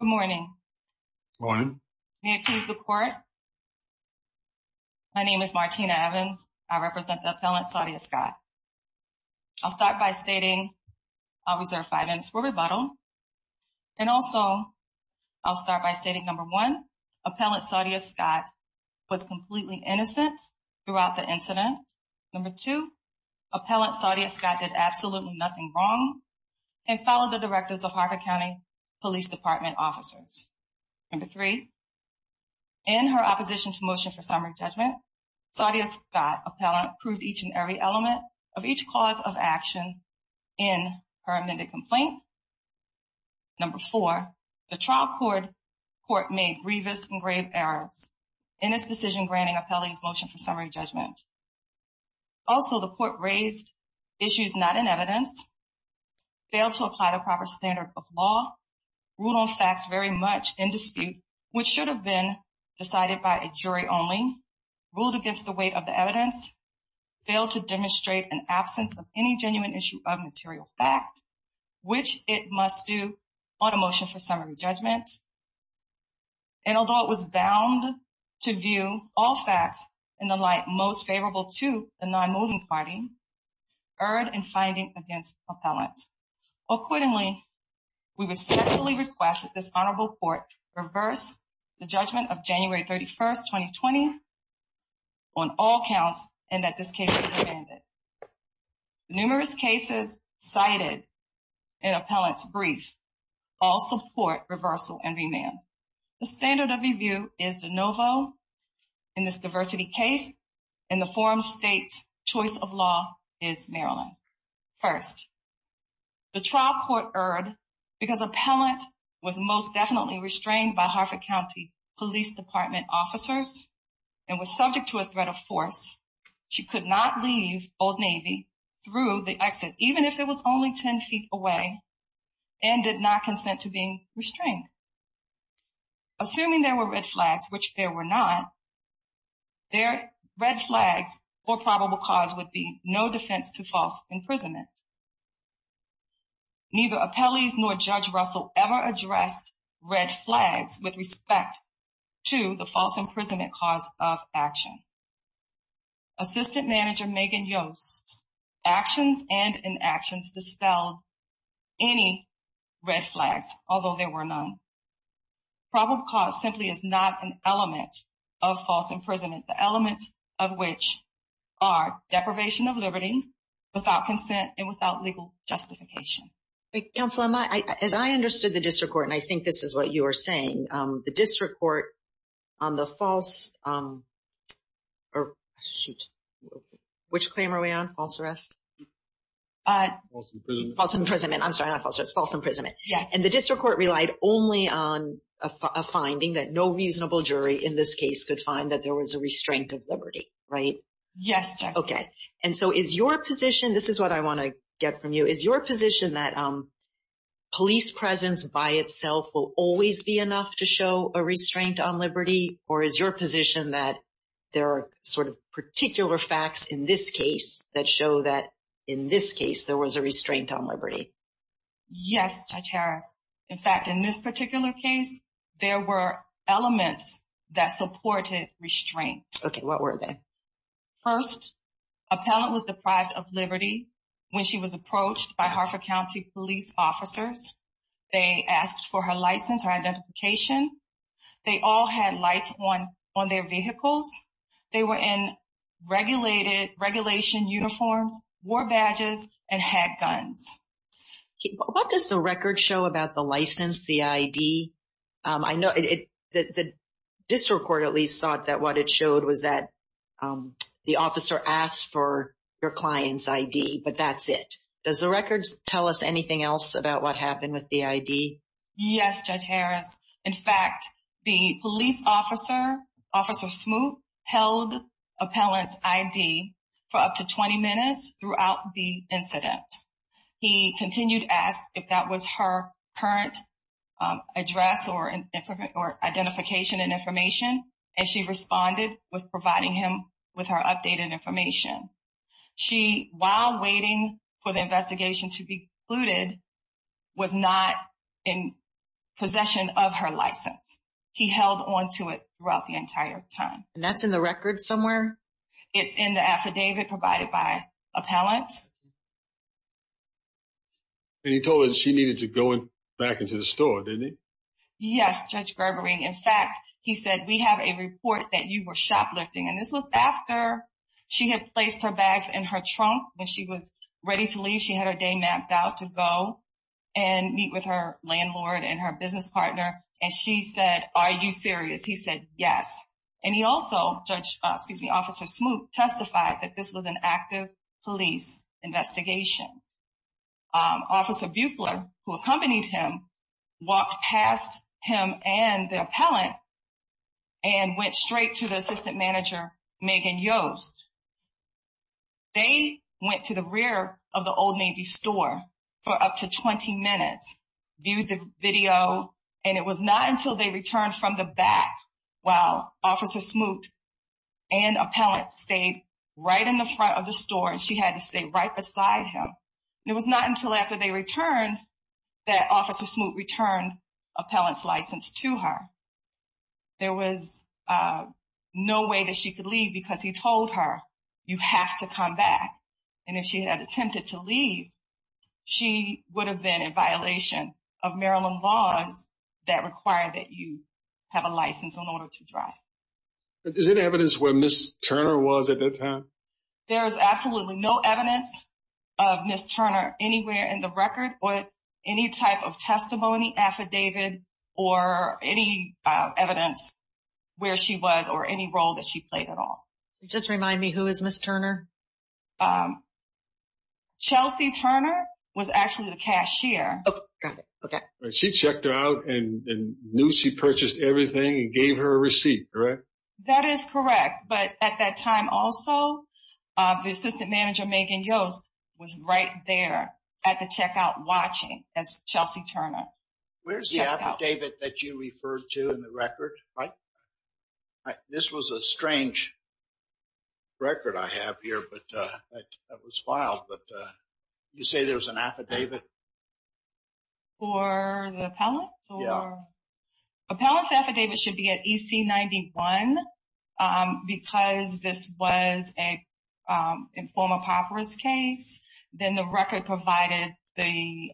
Good morning. May I please the court? My name is Martina Evans. I represent the appellant Saudia Scott. I'll start by stating, I'll reserve five minutes for rebuttal, and also I'll start by stating number one, appellant Saudia Scott was completely innocent throughout the incident. Number two, appellant Saudia Scott did absolutely nothing wrong and followed the police department officers. Number three, in her opposition to motion for summary judgment, Saudia Scott, appellant, proved each and every element of each cause of action in her amended complaint. Number four, the trial court made grievous and grave errors in its decision granting appellees motion for summary judgment. Also, the court raised issues not in evidence, failed to apply the rule of facts very much in dispute, which should have been decided by a jury only, ruled against the weight of the evidence, failed to demonstrate an absence of any genuine issue of material fact, which it must do on a motion for summary judgment, and although it was bound to view all facts in the light most favorable to the non-moving party, erred in finding against appellant. Accordingly, we respectfully request that this honorable court reverse the judgment of January 31st, 2020 on all counts and that this case be remanded. Numerous cases cited in appellant's brief all support reversal and remand. The standard of review is de novo in this diversity case, and the forum state's choice of law is Maryland. First, the trial court erred because appellant was most definitely restrained by Harford County Police Department officers and was subject to a threat of force. She could not leave Old Navy through the exit, even if it was only 10 feet away and did not consent to being restrained. Assuming there were red flags, which there were not, their red flags or probable cause would be no defense to false imprisonment. Neither appellees nor Judge Russell ever addressed red flags with respect to the false imprisonment cause of action. Assistant Manager Megan Yost's actions and inactions dispelled any red flags, although there were none. Probable cause simply is not an element of false imprisonment, the elements of which are deprivation of liberty, without consent and without legal justification. Counselor, as I understood the district court, and I think this is what you are saying, the district court on the false or shoot, which claim are we on false arrest? False imprisonment. I'm sorry, false imprisonment. Yes. And the district court relied only on a finding that no reasonable jury in this case could find that there was a restraint of liberty, right? Yes. Okay. And so is your position, this is what I want to get from you, is your position that police presence by itself will always be enough to show a restraint on liberty? Or is your position that there are sort of particular facts in this case that show that in this case, there was a restraint on liberty? Yes, Judge Harris. In fact, in this particular case, there were elements that supported restraint. Okay, what were they? First, appellant was deprived of liberty. When she was approached by Hartford County police officers, they asked for her license or identification. They all had lights on on their vehicles. They were in regulated regulation uniforms, wore badges, and had guns. What does the record show about the license, the ID? I know the district court at least thought that what it showed was that the officer asked for your client's ID, but that's it. Does the records tell us anything else about what happened with the ID? Yes, Judge Harris. In fact, the police officer, Officer Smoot, held appellant's ID for up to 20 minutes throughout the incident. He continued to ask if that was her current address or identification and information, and she responded with providing him with her updated information. She, while waiting for the of her license, he held on to it throughout the entire time. And that's in the record somewhere? It's in the affidavit provided by appellant. And he told her she needed to go back into the store, didn't he? Yes, Judge Gerbering. In fact, he said, we have a report that you were shoplifting, and this was after she had placed her bags in her trunk. When she was ready to leave, she had her day mapped out to go and meet with her landlord and her business partner, and she said, are you serious? He said, yes. And he also, Judge, excuse me, Officer Smoot, testified that this was an active police investigation. Officer Buechler, who accompanied him, walked past him and the appellant and went straight to the assistant manager, Megan Yost. They went to the rear of the Old Navy store for up to 20 minutes, viewed the video, and it was not until they returned from the back while Officer Smoot and appellant stayed right in the front of the store, and she had to stay right beside him. It was not until after they returned that Officer Smoot returned appellant's license to her. There was no way that she could leave because he told her, you have to come back. And if she had attempted to leave, she would have been in violation of Maryland laws that require that you have a license in order to drive. Is there any evidence where Ms. Turner was at that time? There is absolutely no evidence of Ms. Turner anywhere in the record or any type of testimony affidavit or any evidence where she was or any role that she played. Chelsea Turner was actually the cashier. She checked her out and knew she purchased everything and gave her a receipt, correct? That is correct, but at that time also the assistant manager, Megan Yost, was right there at the checkout watching as Chelsea Turner. Where's the affidavit that you referred to in the record, right? This was a strange record I have here, but it was filed, but you say there's an affidavit? For the appellant? Yeah. Appellant's affidavit should be at EC-91 because this was an informal papyrus case. Then the record provided the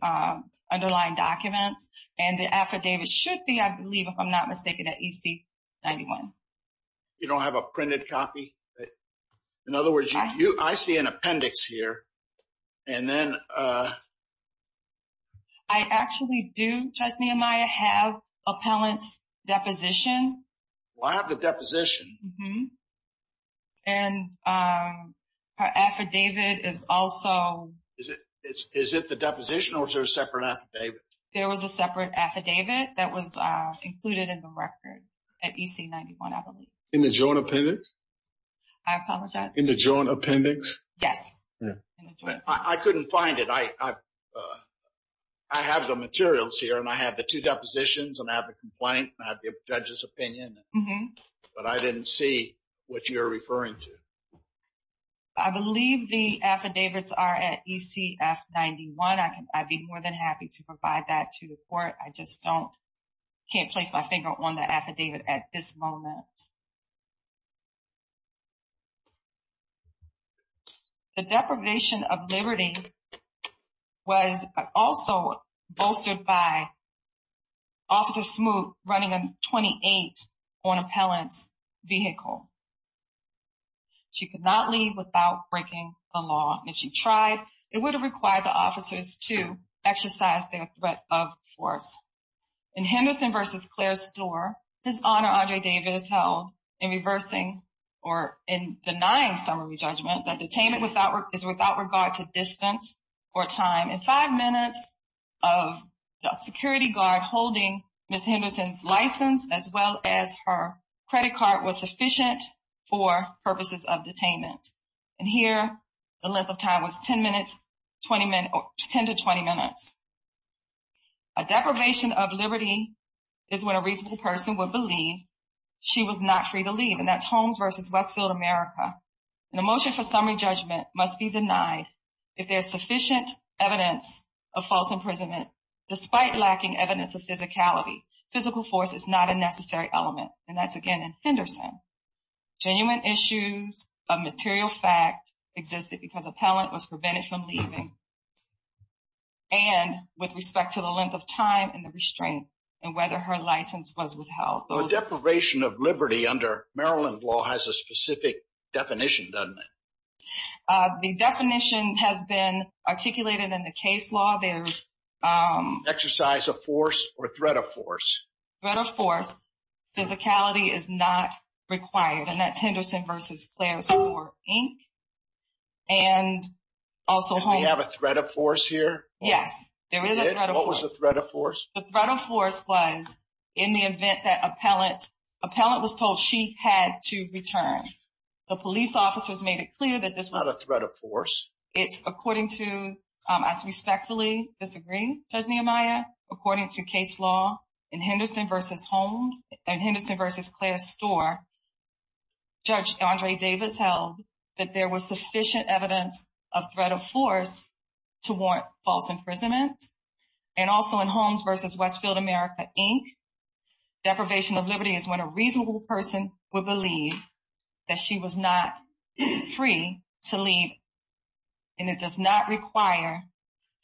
underlying documents and the affidavit should be, I believe, if I'm not mistaken, at EC-91. You don't have a printed copy? In other words, you I see an appendix here and then... I actually do, Judge Nehemiah, have appellant's deposition. I have the deposition. Mm-hmm. And her affidavit is also... Is it the deposition or is there a separate affidavit? There was a affidavit included in the record at EC-91, I believe. In the joint appendix? I apologize. In the joint appendix? Yes. I couldn't find it. I have the materials here and I have the two depositions and I have the complaint and I have the judge's opinion, but I didn't see what you're referring to. I believe the affidavits are at ECF-91. I'd be more than to provide that to the court. I just don't... Can't place my finger on the affidavit at this moment. The deprivation of liberty was also bolstered by Officer Smoot running a 28 on appellant's vehicle. She could not leave without breaking the law. If she tried, it would have required the officers to exercise their threat of force. In Henderson versus Clare's store, His Honor Andre Davis held in reversing or in denying summary judgment that detainment is without regard to distance or time. In five minutes of the security guard holding Ms. Henderson's license as well as her credit card was sufficient for purposes of detainment. And here the length of time was 10 minutes, 10 to 20 minutes. A deprivation of liberty is when a reasonable person would believe she was not free to leave. And that's Holmes versus Westfield America. An emotion for summary judgment must be denied if there's sufficient evidence of false imprisonment despite lacking evidence of physicality. Physical force is not necessary element. And that's again in Henderson. Genuine issues of material fact existed because appellant was prevented from leaving. And with respect to the length of time and the restraint and whether her license was withheld. A deprivation of liberty under Maryland law has a specific definition, doesn't it? The definition has been articulated in the case law. There's exercise of force or threat of force. Threat of force. Physicality is not required. And that's Henderson versus Clare's store Inc. And also we have a threat of force here. Yes, there is a threat of force. What was the threat of force? The threat of force was in the event that appellant was told she had to return. The police officers made it clear that this is not a threat of force. It's according to as respectfully disagree, Judge Nehemiah, according to case law in Henderson versus Holmes and Henderson versus Clare's store. Judge Andre Davis held that there was sufficient evidence of threat of force to warrant false imprisonment. And also in Holmes versus Westfield America Inc. deprivation of liberty is when a reasonable person would believe that she was not free to leave. And it does not require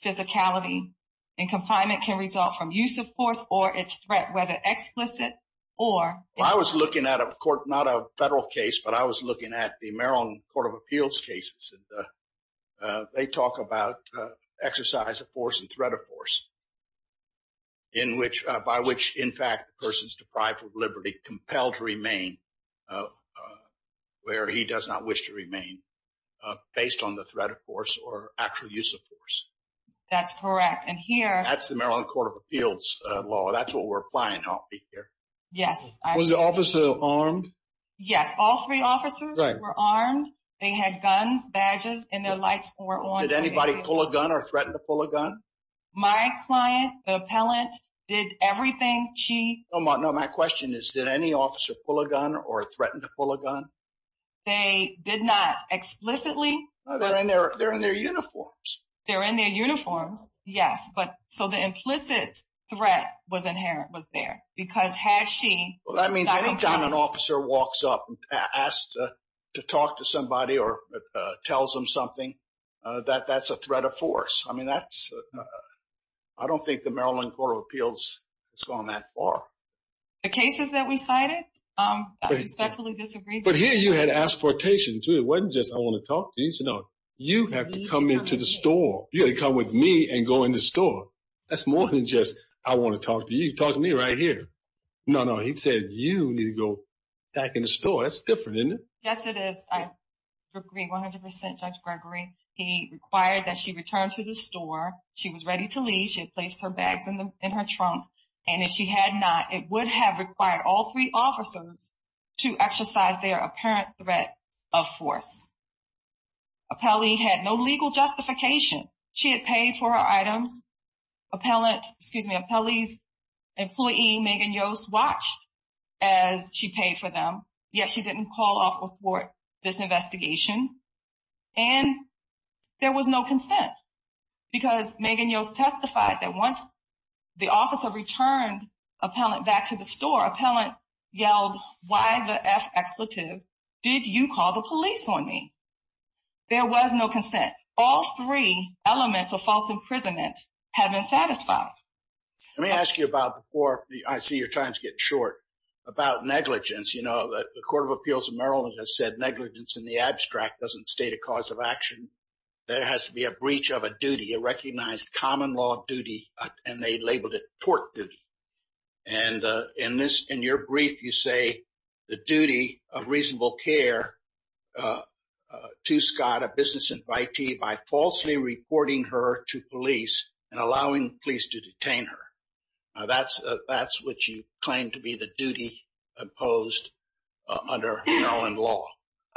physicality and confinement can result from use of force or its threat, whether explicit or... I was looking at a court, not a federal case, but I was looking at the Maryland Court of Appeals cases. They talk about exercise of force and threat of force by which, in fact, the person is deprived of liberty, compelled to remain where he does not wish to remain based on the threat of force or actual use of force. That's correct. And here... That's the Maryland Court of Appeals law. That's what we're applying here. Yes. Was the officer armed? Yes. All three officers were armed. They had guns, badges, and their lights were on. Did anybody pull a gun or threaten to pull a gun? My client, the appellant, did everything. She... No, my question is, did any officer pull a gun or threaten to pull a gun? They did not explicitly. They're in their uniforms. They're in their uniforms. Yes. So, the implicit threat was inherent, was there. Because had she... Well, that means any time an officer walks up and asked to talk to somebody or tells them something, that that's a threat of force. I mean, that's... I don't think the Maryland Court of Appeals has gone that far. The cases that we cited, I respectfully disagree. But here you had asportation too. It wasn't just, I want to talk to you. No, you have to come into the store. You had to come with me and go in the store. That's more than just, I want to talk to you. You talk to me right here. No, no. He said, you need to go back in the store. That's different, isn't it? Yes, it is. I agree 100%, Judge Gregory. He required that she returned to the store. She was ready to leave. She had placed her bags in her trunk. And if she had not, it would have required all three officers to exercise their apparent threat of force. Appellee had no legal justification. She had paid for her items. Appellate, excuse me, Appellee's employee, Megan Yost, watched as she paid for them. Yet she didn't call off this investigation. And there was no consent. Because Megan Yost testified that once the officer returned Appellant back to the store, Appellant yelled, why the F-expletive did you call the police on me? There was no consent. All three elements of false imprisonment have been satisfied. Let me ask you about before, I see your time's getting short, about negligence. The Court of Appeals of Maryland has said negligence in the abstract doesn't state a cause of action. There has to be a breach of a duty, a recognized common law duty, and they labeled it tort duty. And in your brief, you say the duty of reasonable care to Scott, a business invitee, by falsely reporting her to police and allowing police to detain her. That's what you claim to be the duty imposed under Maryland law.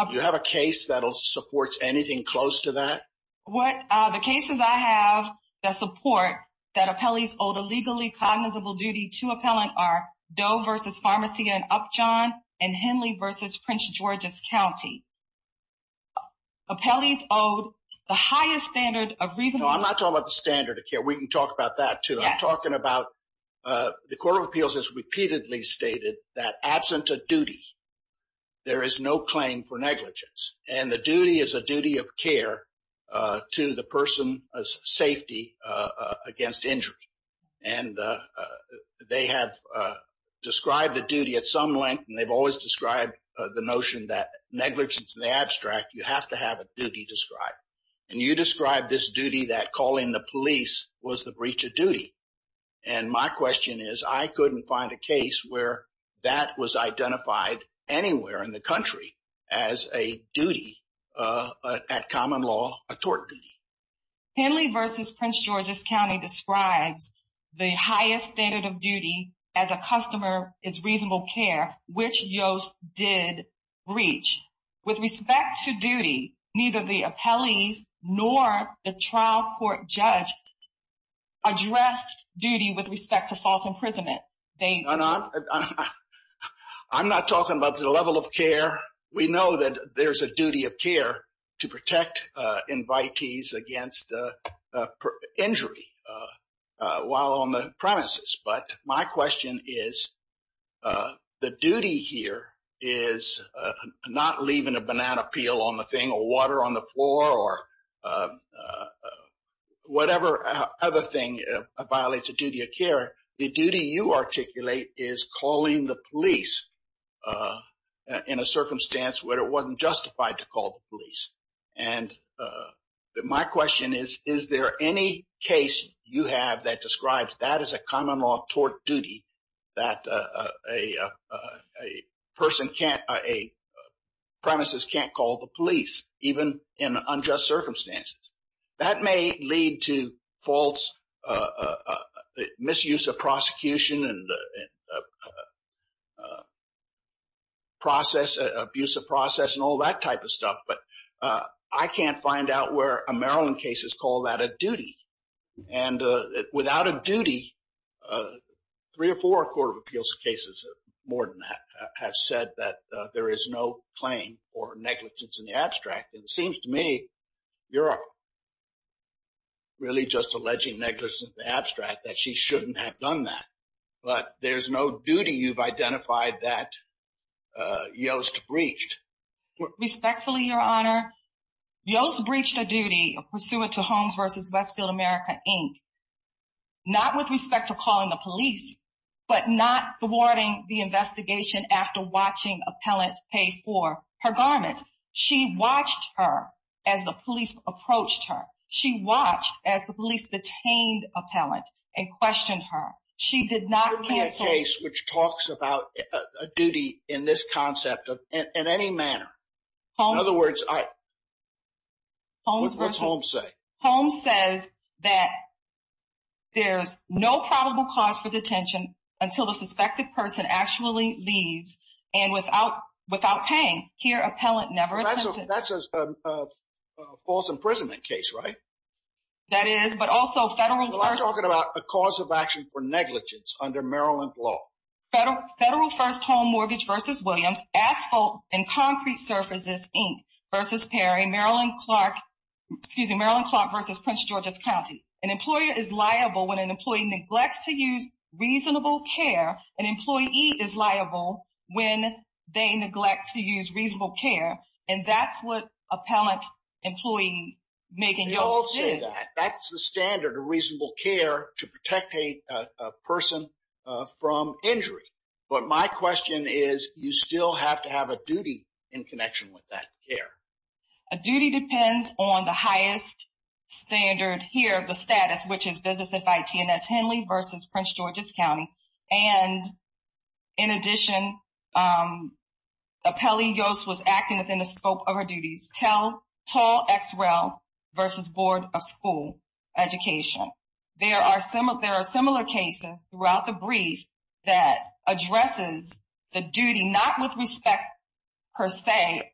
Do you have a case that supports anything close to that? The cases I have that support that Appellee's owed a legally cognizable duty to Appellant are Doe v. Pharmacy and Upjohn and Henley v. Prince George's County. Appellee's owed the highest standard of reasonable- No, I'm not talking about the standard of care. We can talk about that too. I'm talking about the Court of Appeals has repeatedly stated that absent a duty, there is no claim for negligence. And the duty is a duty of care to the person's safety against injury. And they have described the duty at some length, and they've always described the notion that negligence in the abstract, you have to have a duty described. And you described this duty that calling the police was the breach of duty. And my question is, I couldn't find a case where that was identified anywhere in the country as a duty at common law, a tort duty. Henley v. Prince George's County describes the highest standard of duty as a customer is reasonable care, which Yost did breach. With respect to duty, neither the appellees nor the trial court judge addressed duty with respect to false imprisonment. I'm not talking about the level of care. We know that there's a duty of care to protect invitees against injury while on the premises. But my question is, the duty here is not leaving a banana peel on the thing or water on the floor or whatever other thing violates a duty of care. The duty you articulate is calling the police in a circumstance where it wasn't justified to call the police. And my question is, is there any case you have that describes that as a common law tort duty that a premises can't call the police even in unjust circumstances? That may lead to false misuse of prosecution and abuse of process and all that type of stuff. But I can't find out where a Maryland case is that a duty. And without a duty, three or four Court of Appeals cases, more than that, have said that there is no claim for negligence in the abstract. And it seems to me, you're really just alleging negligence in the abstract that she shouldn't have done that. But there's no duty you've identified that Yost breached. Respectfully, Your Honor, Yost breached a duty pursuant to Holmes v. Westfield America, Inc. not with respect to calling the police, but not thwarting the investigation after watching appellant pay for her garments. She watched her as the police approached her. She watched as the police detained appellant and questioned her. She did not cancel- Which talks about a duty in this concept in any manner. In other words, what's Holmes say? Holmes says that there's no probable cause for detention until the suspected person actually leaves and without paying, here, appellant never attended. That's a false imprisonment case, right? That is, but also federal- I'm talking about a cause of action for negligence under Maryland law. Federal first home mortgage v. Williams, asphalt and concrete surfaces, Inc. v. Perry, Maryland Clark v. Prince George's County. An employer is liable when an employee neglects to use reasonable care. An employee is liable when they neglect to use reasonable care. And that's what appellant employee Megan Yost did. That's the standard of reasonable care to protect a person from injury. But my question is, you still have to have a duty in connection with that care. A duty depends on the highest standard here, the status, which is business FIT and that's Henley v. Prince George's County. And in addition, appellee Yost was acting within the scope of her duties. Tall X-Rail v. Board of School Education. There are similar cases throughout the brief that addresses the duty, not with respect, per se,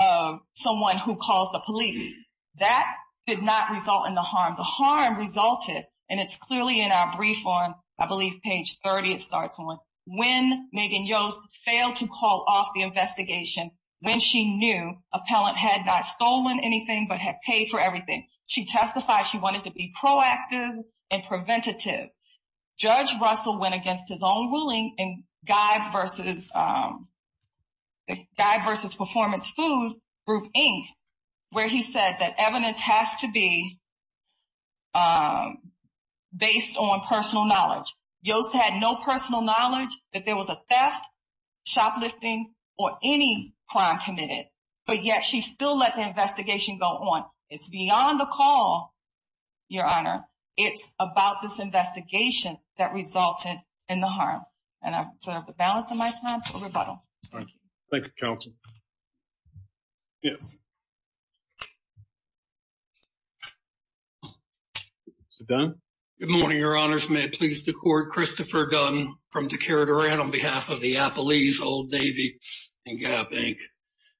of someone who calls the police. That did not result in the harm. The harm resulted, and it's clearly in our brief on, I believe, page 30, it starts on, when Megan Yost failed to call off the investigation, when she knew appellant had not stolen anything, but had paid for everything. She testified she wanted to be proactive and preventative. Judge Russell went against his own ruling in Guy v. Performance Food, Group, Inc., where he said that evidence has to be based on personal knowledge. Yost had no personal knowledge that there was a theft, shoplifting, or any crime committed, but yet she still let the investigation go on. It's beyond the call, Your Honor. It's about this investigation that resulted in the harm. And I'm balancing my time for rebuttal. Thank you, counsel. Yes. Mr. Dunn? Good morning, Your Honors. May it please the Court, Christopher Dunn, from Decatur-Durant, on behalf of the Appalese Old Navy and Gap, Inc.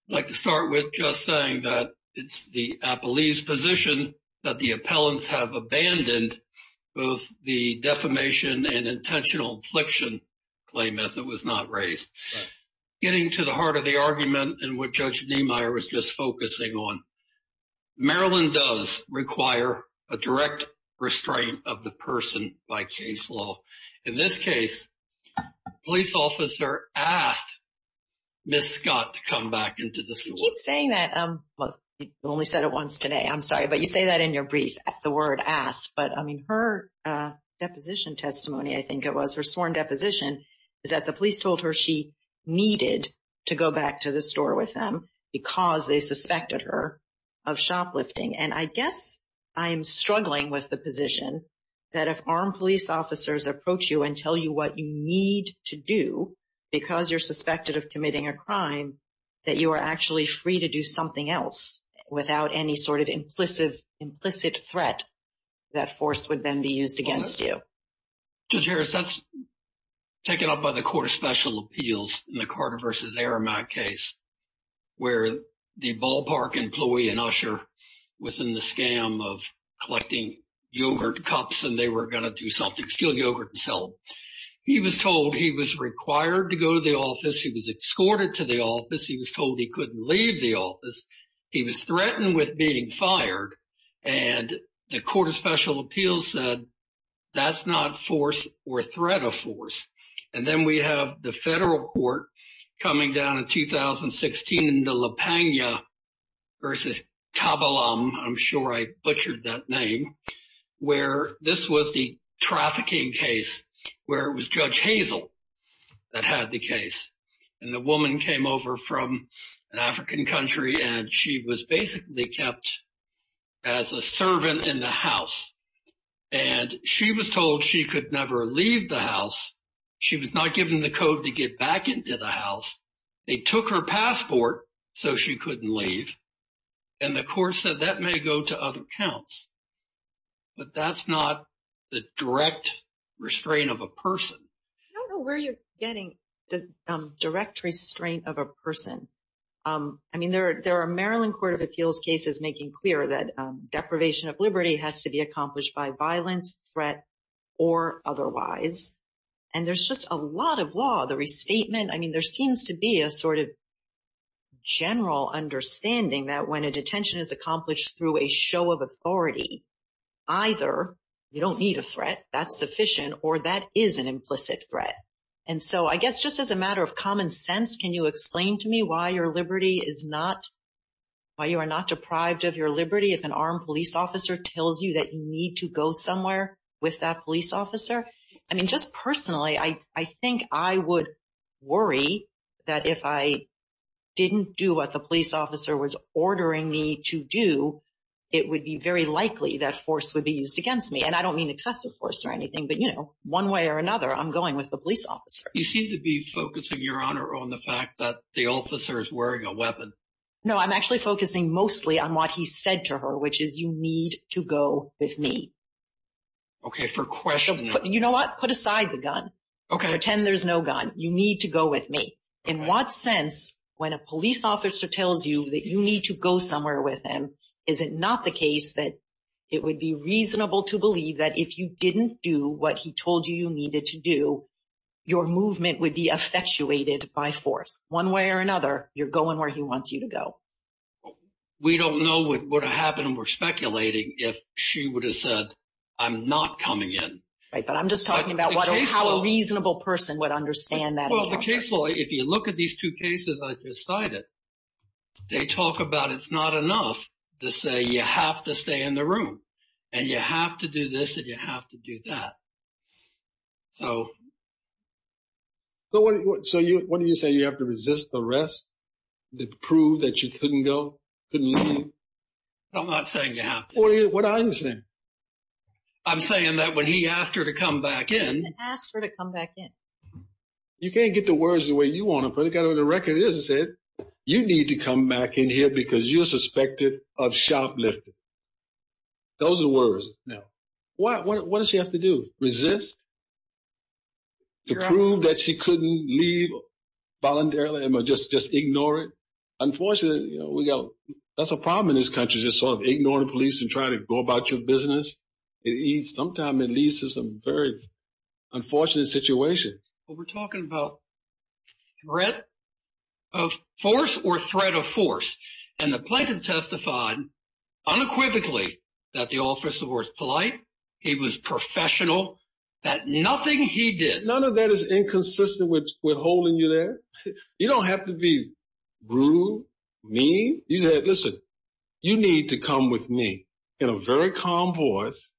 I'd like to start with just saying that it's the Appalese position that the appellants have abandoned both the defamation and intentional infliction claim as it was not raised. Getting to the heart of the argument and what Judge Niemeyer was just focusing on, Maryland does require a direct restraint of the person by case law. In this case, police officer asked Ms. Scott to come back into the suit. You keep saying that. Well, you only said it once today. I'm sorry. But you say that in your brief, the word asked. But I mean, her deposition testimony, I think it was, her sworn deposition, is that the police told her she needed to go back to the store with them because they suspected her of shoplifting. And I guess I'm struggling with the position that if armed police officers approach you and tell you what you need to do because you're suspected of committing a crime, that you are actually free to do something else without any sort of implicit threat, that force would then be used against you. Judge Harris, that's taken up by the Court of Special Appeals in the Carter v. Aramak case, where the ballpark employee in Usher was in the scam of collecting yogurt cups and they were going to do something, steal yogurt and sell them. He was told he was required to go to the office. He was escorted to the office. He was told he couldn't leave the office. He was threatened with being fired. And the Court of Special Appeals said, that's not force or threat of force. And then we have the federal court coming down in 2016 in the La Pena v. Kabilam, I'm sure I butchered that name, where this was the trafficking case, where it was Judge Hazel that had the case. And the woman came over from an African country and she was basically kept as a servant in the house. And she was told she could never leave the house. She was not given the code to get back into the house. They took her passport so she couldn't leave. And the court said that may go to other accounts. But that's not the direct restraint of a person. I don't know where you're getting the direct restraint of a person. I mean, there are Maryland Court of Appeals cases making clear that deprivation of liberty has to be accomplished by violence, threat or otherwise. And there's just a lot of law, the restatement. I mean, there seems to be a sort of general understanding that when a detention is accomplished through a show of authority, either you don't need a threat, that's sufficient, or that is an implicit threat. And so I guess just as a matter of common sense, can you explain to me why you are not deprived of your liberty if an armed police officer tells you that you need to go somewhere with that police officer? I mean, just personally, I think I would worry that if I didn't do what the police officer was ordering me to do, it would be very likely that force would be used against me. And I don't mean excessive force or anything. But, you know, one way or another, I'm going with the police officer. You seem to be focusing, Your Honor, on the fact that the officer is wearing a weapon. No, I'm actually focusing mostly on what he said to her, which is you need to go with me. Okay, for question... You know what? Put aside the gun. Pretend there's no gun. You need to go with me. In what sense, when a police officer tells you that you need to go somewhere with him, is it not the case that it would be reasonable to believe that if you didn't do what he told you you needed to do, your movement would be effectuated by force? One way or another, you're going where he wants you to go. Well, we don't know what would have happened, we're speculating, if she would have said, I'm not coming in. Right, but I'm just talking about how a reasonable person would understand that. Well, the case law, if you look at these two cases I just cited, they talk about it's not enough to say you have to stay in the room, and you have to do this, and you have to do that. So... I'm not saying you have to. What do I understand? I'm saying that when he asked her to come back in... Asked her to come back in. You can't get the words the way you want to put it. The record is it said, you need to come back in here because you're suspected of shoplifting. Those are the words. Now, what does she have to do? Resist? To prove that she couldn't leave voluntarily and just ignore it? Unfortunately, that's a problem in this country, just sort of ignoring the police and trying to go about your business. Sometimes it leads to some very unfortunate situations. Well, we're talking about threat of force or threat of force. And the plaintiff testified unequivocally that the officer was polite, he was professional, that nothing he did... None of that is inconsistent with holding you there. You don't have to be rude, mean. You said, listen, you need to come with me in a very calm voice.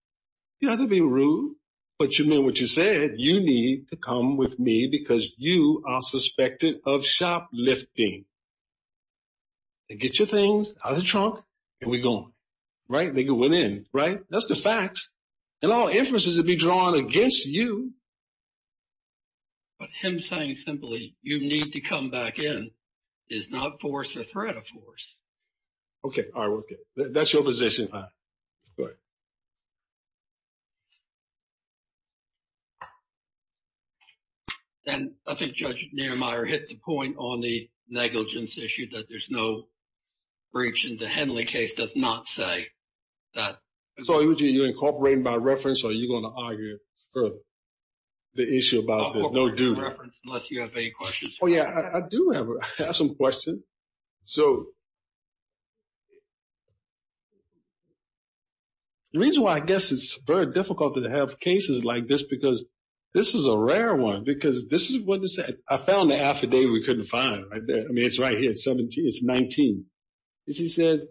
You don't have to be rude, but you meant what you said. You need to come with me because you are suspected of shoplifting. They get your things out of the trunk and we go on. They go in. That's the facts. And all inferences would be drawn against you. But him saying simply, you need to come back in is not force or threat of force. Okay. All right. That's your position. Go ahead. And I think Judge Nehemiah hit the point on the negligence issue that there's no breach in the Henley case does not say that... So are you incorporating by reference or are you going to argue the issue about there's no due? Incorporating by reference unless you have any questions. Yeah, I do have some questions. So the reason why I guess it's very difficult to have cases like this, because this is a rare one, because this is what they said. I found the affidavit we couldn't find right there. I mean, it's right here. It's 19. And she says,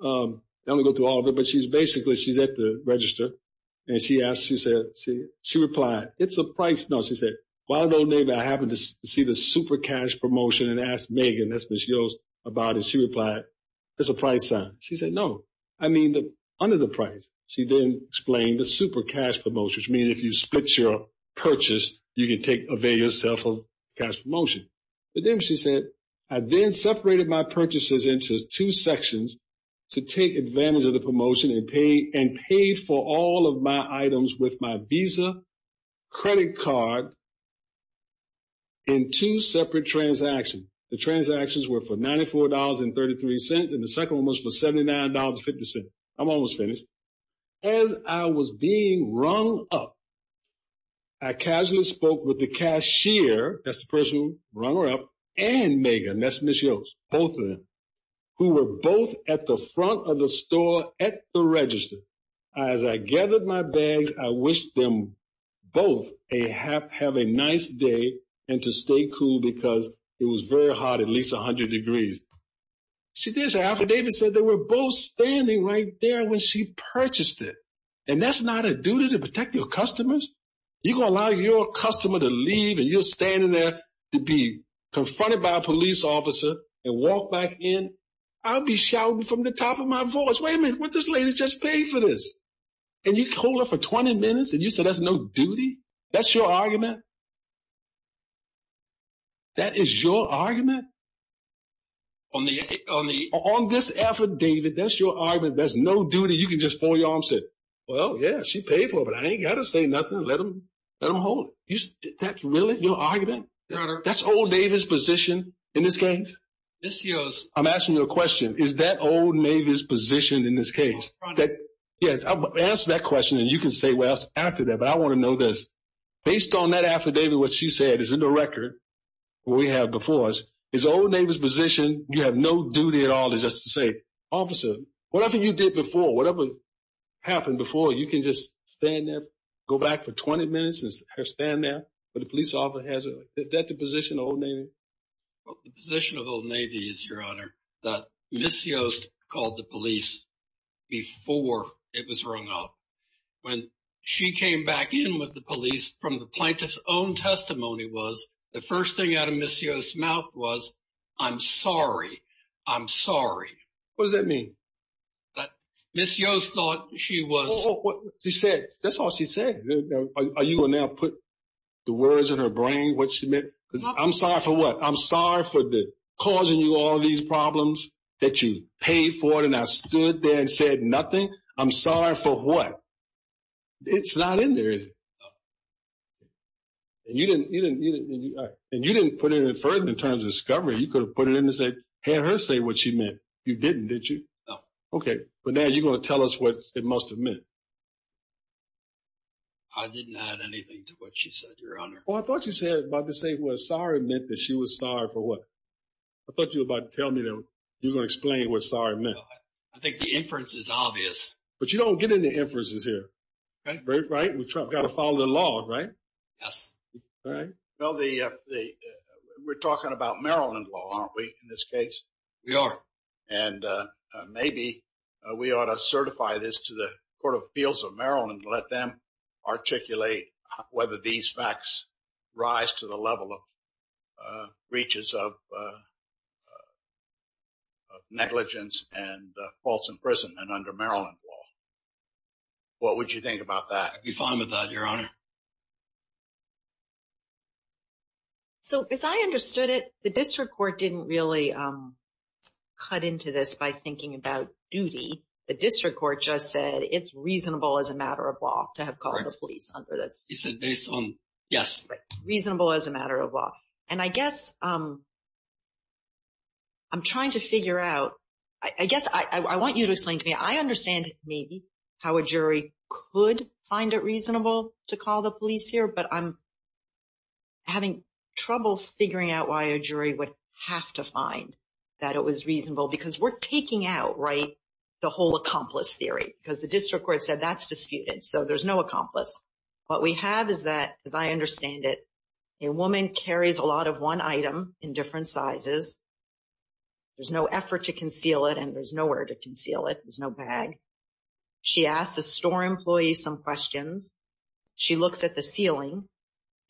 I don't want to go through all of it, but she's basically, she's at the register. And she asked, she replied, it's a price... No, she said, while in Old Navy, I happened to see the super cash promotion and asked Megan, that's Ms. Yost, about it. She replied, it's a price sign. She said, no, I mean, under the price. She then explained the super cash promotion, which means if you split your purchase, you can avail yourself of cash promotion. But then she said, I then separated my purchases into two sections to take advantage of the promotion and paid for all of my items with my visa, credit card, and two separate transactions. The transactions were for $94.33, and the second one was for $79.50. I'm almost finished. As I was being rung up, I casually spoke with the cashier, that's the person who rung her up, and Megan, that's Ms. Yost, both of them, who were both at the front of the store at the register. As I gathered my bags, I wished them both have a nice day and to stay cool because it was very hot, at least 100 degrees. She did say, Alfred David said, they were both standing right there when she purchased it. And that's not a duty to protect your customers. You're going to allow your customer to leave and you're standing there to be confronted by a police officer and walk back in. I'll be from the top of my voice, wait a minute, what this lady just paid for this? And you hold her for 20 minutes and you said, that's no duty? That's your argument? That is your argument? On this effort, David, that's your argument, there's no duty, you can just pull your arm and say, well, yeah, she paid for it, but I ain't got to say nothing, let them hold it. That's really your argument? That's old David's position in this case? I'm asking you a question, is that old David's position in this case? Yes, I'll answer that question and you can say what else after that, but I want to know this. Based on that affidavit, what she said is in the record, what we have before us, is old David's position, you have no duty at all just to say, officer, whatever you did before, whatever happened before, you can just stand there, go back for 20 minutes and stand there, but the police officer has, is that the position of old David? Well, the position of old David is, your honor, that Ms. Yost called the police before it was wrung up. When she came back in with the police from the plaintiff's own testimony was, the first thing out of Ms. Yost's mouth was, I'm sorry, I'm sorry. What does that mean? That Ms. Yost thought she was- She said, that's all she said. Are you going to now put the words in her brain, what she meant? I'm sorry for what? I'm sorry for causing you all these problems that you paid for it, and I stood there and said nothing? I'm sorry for what? It's not in there, is it? And you didn't put it in further in terms of discovery, you could have put it in and said, had her say what she meant, you didn't, did you? Okay, but now you're going to tell us what it must have meant. I didn't add anything to what she said, your honor. Well, I thought you said, about to say what sorry meant that she was sorry for what? I thought you were about to tell me that you were going to explain what sorry meant. I think the inference is obvious. But you don't get any inferences here, right? We've got to follow the law, right? Yes. Well, we're talking about Maryland law, aren't we, in this case? We are. And maybe we ought to certify this to the Court of Appeals of Maryland and let them articulate whether these facts rise to the level of breaches of negligence and false imprisonment under Maryland law. What would you think about that? I'd be fine with that, your honor. So, as I understood it, the district court didn't really cut into this by thinking about duty. The district court just said it's reasonable as a matter of law to have called the police under this. He said based on, yes. Reasonable as a matter of law. And I guess I'm trying to figure out, I guess I want you to explain to me, I understand maybe how a jury could find it reasonable to call the police here. But I'm having trouble figuring out why a jury would have to find that it was reasonable. Because we're taking out, right, the whole accomplice theory. Because the district court said that's disputed. So, there's no accomplice. What we have is that, as I understand it, a woman carries a lot of one item in different sizes. There's no effort to conceal it and there's nowhere to conceal it. There's no bag. She asks a store employee some questions. She looks at the ceiling.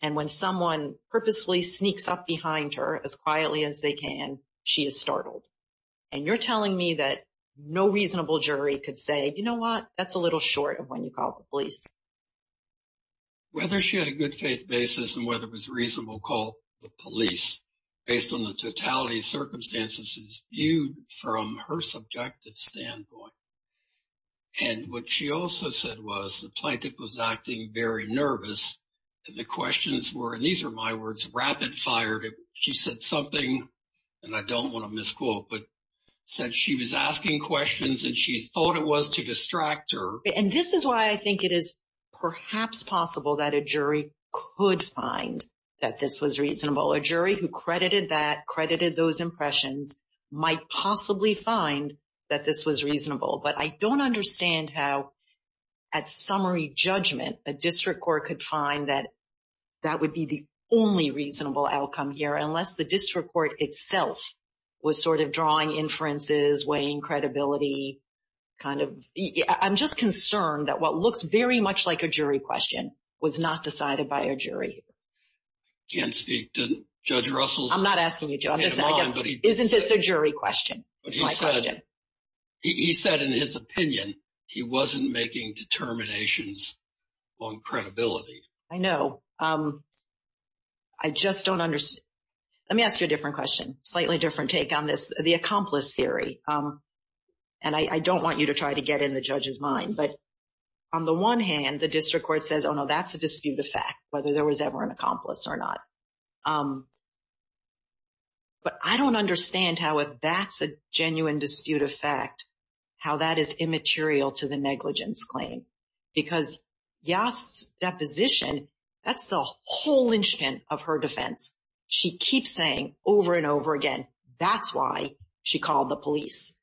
And when someone purposely sneaks up behind her as quietly as they can, she is startled. And you're telling me that no reasonable jury could say, you know what? That's a little short of when you call the police. Whether she had a good faith basis and whether it was reasonable to call the police based on the totality of circumstances is viewed from her subjective standpoint. And what she also said was the plaintiff was acting very nervous. And the questions were, and these are my words, rapid fired. She said something, and I don't want to misquote, but said she was asking questions and she thought it was to distract her. And this is why I think it is perhaps possible that a jury could find that this was reasonable. A jury who credited that, credited those impressions, might possibly find that this was reasonable. But I don't understand how, at summary judgment, a district court could find that that would be the only reasonable outcome here, unless the district court itself was sort of drawing inferences, weighing credibility. I'm just concerned that what looks very much like a jury question was not decided by a jury. I can't speak to Judge Russell. I'm not asking you, Joe. Isn't this a jury question? It's my question. He said in his opinion, he wasn't making determinations on credibility. I know. I just don't understand. Let me ask you a different question. Slightly different take on this. The accomplice theory. And I don't want you to try to get in the judge's mind. But on the one hand, the district court says, oh, no, that's a disputed fact, whether there was ever an accomplice or not. But I don't understand how, if that's a genuine disputed fact, how that is immaterial to the negligence claim. Because Yost's deposition, that's the whole linchpin of her defense. She keeps saying over and over again, that's why she called the police.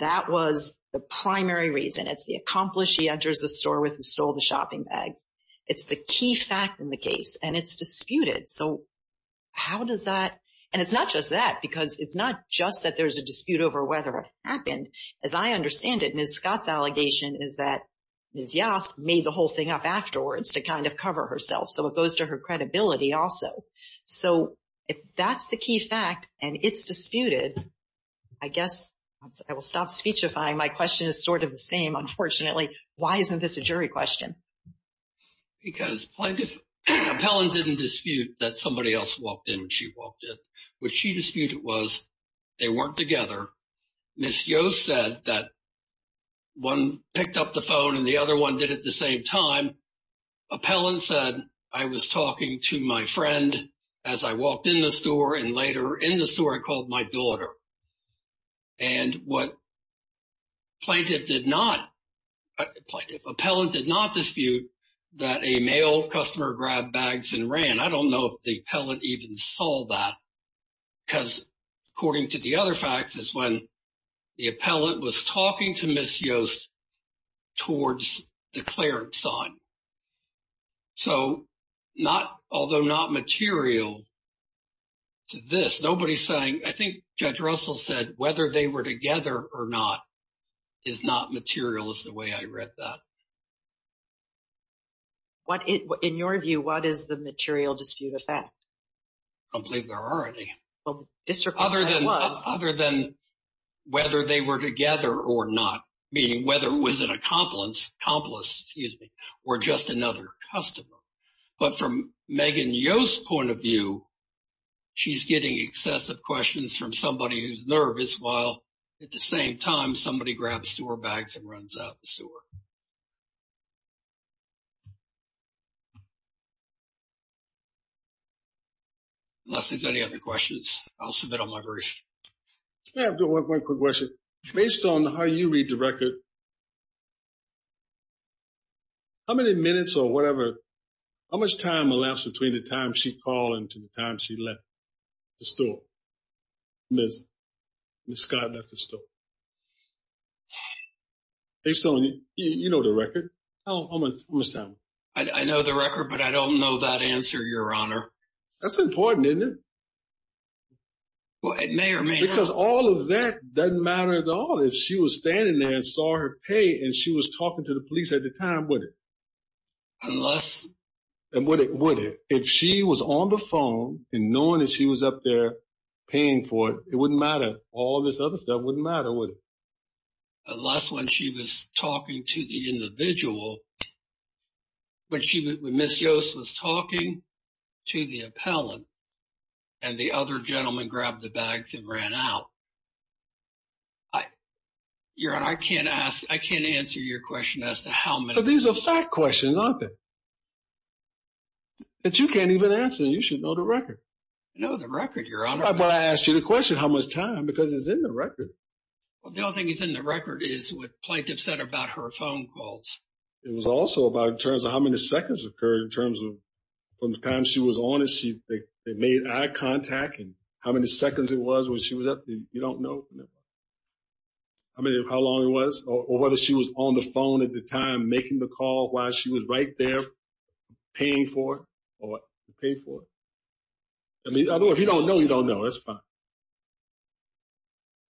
That was the primary reason. It's the accomplice she enters the store with who stole the shopping bags. It's the key fact in the case. And it's disputed. So how does that? And it's not just that. Because it's not just that there's a dispute over whether it happened. As I understand it, Ms. Scott's allegation is that Ms. Yost made the whole thing up afterwards to kind of cover herself. So it goes to her credibility also. So if that's the key fact and it's disputed, I guess I will stop speechifying. My question is sort of the same, unfortunately. Why isn't this a jury question? Because plaintiff, appellant didn't dispute that somebody else walked in and she walked in. What she disputed was they weren't together. Ms. Yost said that one picked up the phone and the other one did at the same time. Appellant said, I was talking to my friend as I walked in the store. And later in the store, I called my daughter. And what plaintiff did not, appellant did not dispute that a male customer grabbed bags and ran. I don't know if the appellant even saw that. Because according to the other facts is when the appellant was talking to Ms. Yost towards the clearance sign. So not, although not material to this. I think Judge Russell said, whether they were together or not, is not material is the way I read that. In your view, what is the material dispute effect? I don't believe there are any. Other than whether they were together or not, meaning whether it was an accomplice or just another customer. But from Megan Yost's point of view, she's getting excessive questions from somebody who's nervous while at the same time, somebody grabs store bags and runs out the store. Unless there's any other questions, I'll submit on my version. Yeah, I have one quick question. Based on how you read the record, how many minutes or whatever, how much time elapsed between the time she called and to the time she left the store, Ms. Scott left the store? Based on, you know the record, how much time? I know the record, but I don't know that answer, Your Honor. That's important, isn't it? Well, it may or may not. Because all of that doesn't matter at all. If she was standing there and saw her pay and she was talking to the police at the time, would it? Unless... And would it? If she was on the phone and knowing that she was up there paying for it, it wouldn't matter. All of this other stuff wouldn't matter, would it? Unless when she was talking to the individual, when Ms. Yost was talking to the appellant and the other gentleman grabbed the bags and ran out. Your Honor, I can't answer your question as to how many... But these are fact questions, aren't they? That you can't even answer and you should know the record. I know the record, Your Honor. But I asked you the question, how much time? Because it's in the record. Well, the only thing that's in the record is what plaintiff said about her phone calls. It was also about in terms of how many seconds occurred in terms of from the time she was on it, they made eye contact and how many seconds it was when she was up there, you don't know. I mean, how long it was or whether she was on the phone at the time making the call while she was right there paying for it or paid for it. I mean, if you don't know, you don't know, that's fine.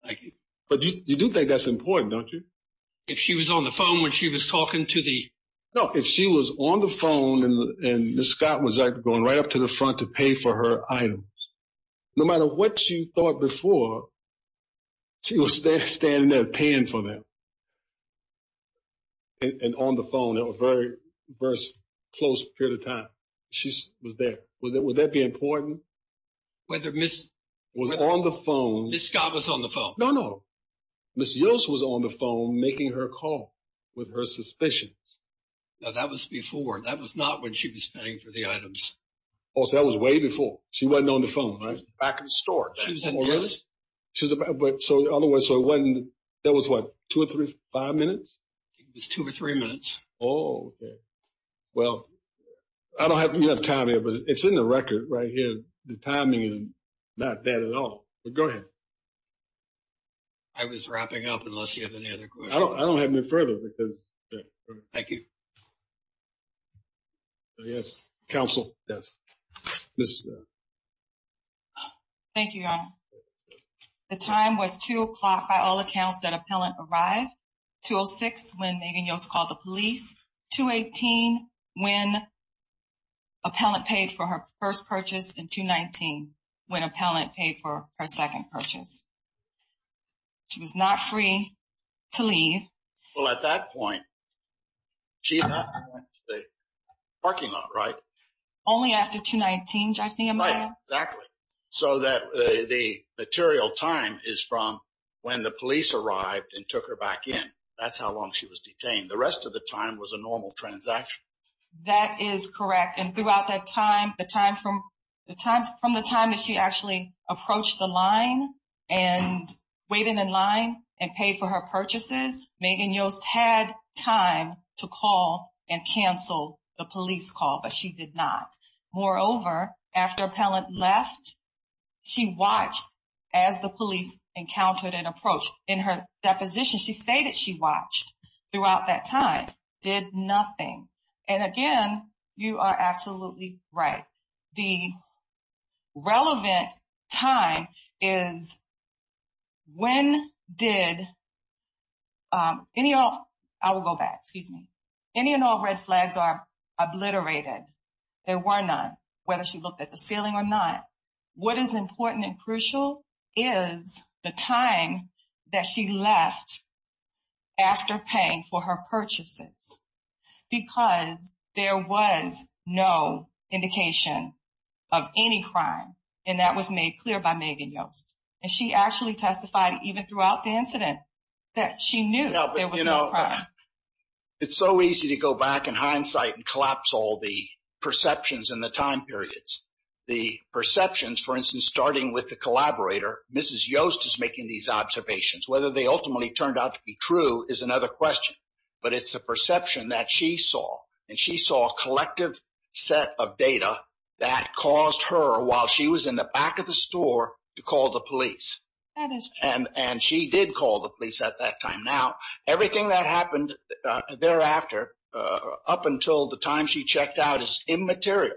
Thank you. But you do think that's important, don't you? If she was on the phone when she was talking to the... No, if she was on the phone and Ms. Scott was going right up to the front to pay for her items, no matter what you thought before, she was standing there paying for them and on the phone at a very close period of time. She was there. Would that be important? Whether Ms. Scott was on the phone? No, no. Ms. Yost was on the phone making her call with her suspicions. No, that was before. That was not when she was paying for the items. Oh, so that was way before. She wasn't on the phone, right? She was back in the store. She was in... Oh, really? She was... But so, otherwise, so it wasn't... That was what? Two or three, five minutes? It was two or three minutes. Oh, okay. Well, I don't have enough time here, but it's in the record right here. The timing is not bad at all, but go ahead. I was wrapping up unless you have any other questions. I don't have any further because... Thank you. Yes, counsel, yes. Ms. Snow. Thank you, Your Honor. The time was two o'clock by all accounts that appellant arrived, 2.06 when Megan Yost called the police, 2.18 when appellant paid for her first purchase, and 2.19 when appellant paid for her second purchase. She was not free to leave. Well, at that point, she left and went to the parking lot, right? Only after 2.19, I think, Amaya? Right, exactly. So that the material time is from when the police arrived and took her back in. That's how long she was detained. The rest of the time was a normal transaction. That is correct. And throughout that time, the time from the time that she actually approached the line and waited in line and paid for her purchases, Megan Yost had time to call and cancel the police call, but she did not. Moreover, after appellant left, she watched as the police encountered and approached. In her deposition, she stated she watched throughout that time, did nothing. And again, you are absolutely right. The relevant time is when did any of... I will go back, excuse me. Any and all red flags are obliterated. There were none, whether she looked at the ceiling or not. What is important and crucial is the time that she left after paying for her purchases, because there was no indication of any crime. And that was made clear by Megan Yost. And she actually testified even throughout the incident that she knew there was no crime. It's so easy to go back in hindsight and collapse all the perceptions and the time periods. The perceptions, for instance, starting with the collaborator, Mrs. Yost is making these observations. Whether they ultimately turned out to be true is another question, but it's the perception that she saw. And she saw a collective set of data that caused her, while she was in the back of the store, to call the police. And she did call the police at that time. Now, everything that happened thereafter up until the time she checked out is immaterial.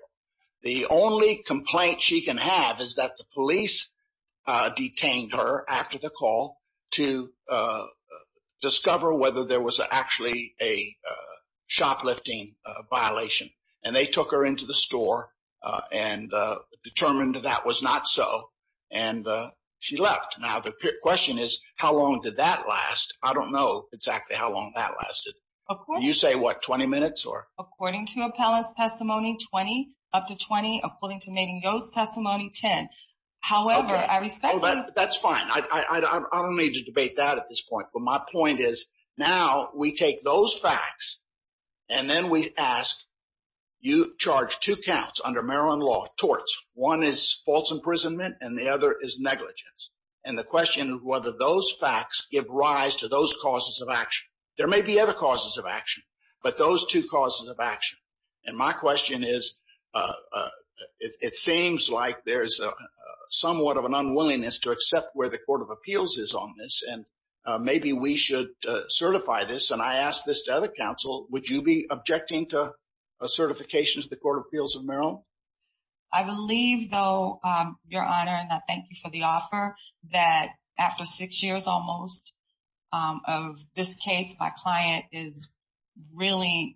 The only complaint she can have is that the police detained her after the call to discover whether there was actually a shoplifting violation. And they took her into the store and determined that was not so. And she left. Now, the question is, how long did that last? I don't know exactly how long that lasted. Of course. You say, what, 20 minutes or? According to appellant's testimony, 20, up to 20. According to Megan Yost's testimony, 10. However, I respect that. That's fine. I don't need to debate that at this point. But my point is, now we take those facts and then we ask, you charge two counts under Maryland law, torts. One is false imprisonment and the other is negligence. And the question is whether those facts give rise to those causes of action. There may be other causes of action, but those two causes of action. And my question is, it seems like there's a somewhat of an unwillingness to accept where the Court of Appeals is on this. And maybe we should certify this. And I ask this to other counsel. Would you be objecting to a certification to the Court of Appeals of Maryland? I believe, though, Your Honor, and I thank you for the offer, that after six years almost of this case, my client is really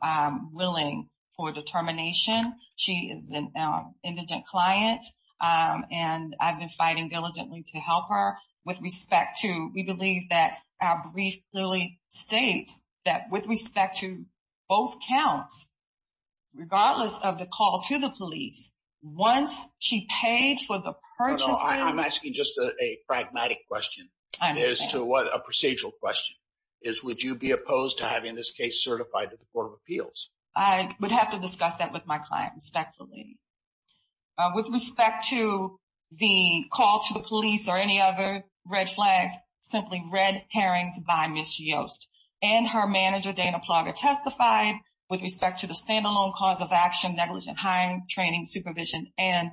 willing for determination. She is an indigent client. And I've been fighting diligently to help her. With respect to, we believe that our brief clearly states that with respect to both counts, regardless of the call to the police, once she paid for the purchases- I'm asking just a pragmatic question as to what a procedural question is. Would you be opposed to having this case certified to the Court of Appeals? I would have to discuss that with my client respectfully. With respect to the call to the police or any other red flags, simply red herrings by Ms. Yost and her manager, Dana Plogger, testified with respect to the standalone cause of action, negligent hiring, training, supervision, and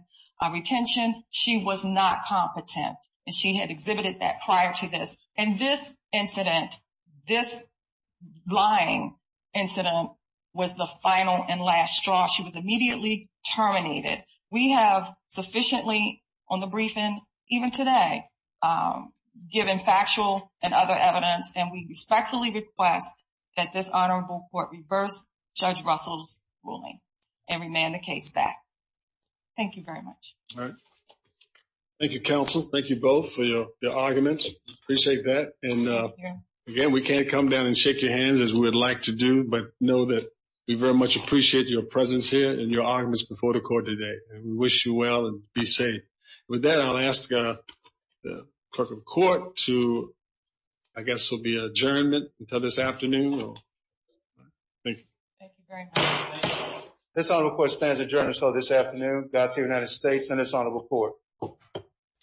retention. She was not competent. And she had exhibited that prior to this. And this incident, this lying incident was the final and last straw. She was immediately terminated. We have sufficiently on the briefing, even today, given factual and other evidence. And we respectfully request that this honorable court reverse Judge Russell's ruling and remand the case back. Thank you very much. Thank you, counsel. Thank you both for your arguments. Appreciate that. And again, we can't come down and shake your hands as we would like to do, but know that we very much appreciate your presence here and your arguments before the court today. And we wish you well and be safe. With that, I'll ask the clerk of court to, I guess, will be adjourned until this afternoon. Thank you. Thank you very much. This honorable court stands adjourned until this afternoon. God save the United States and this honorable court.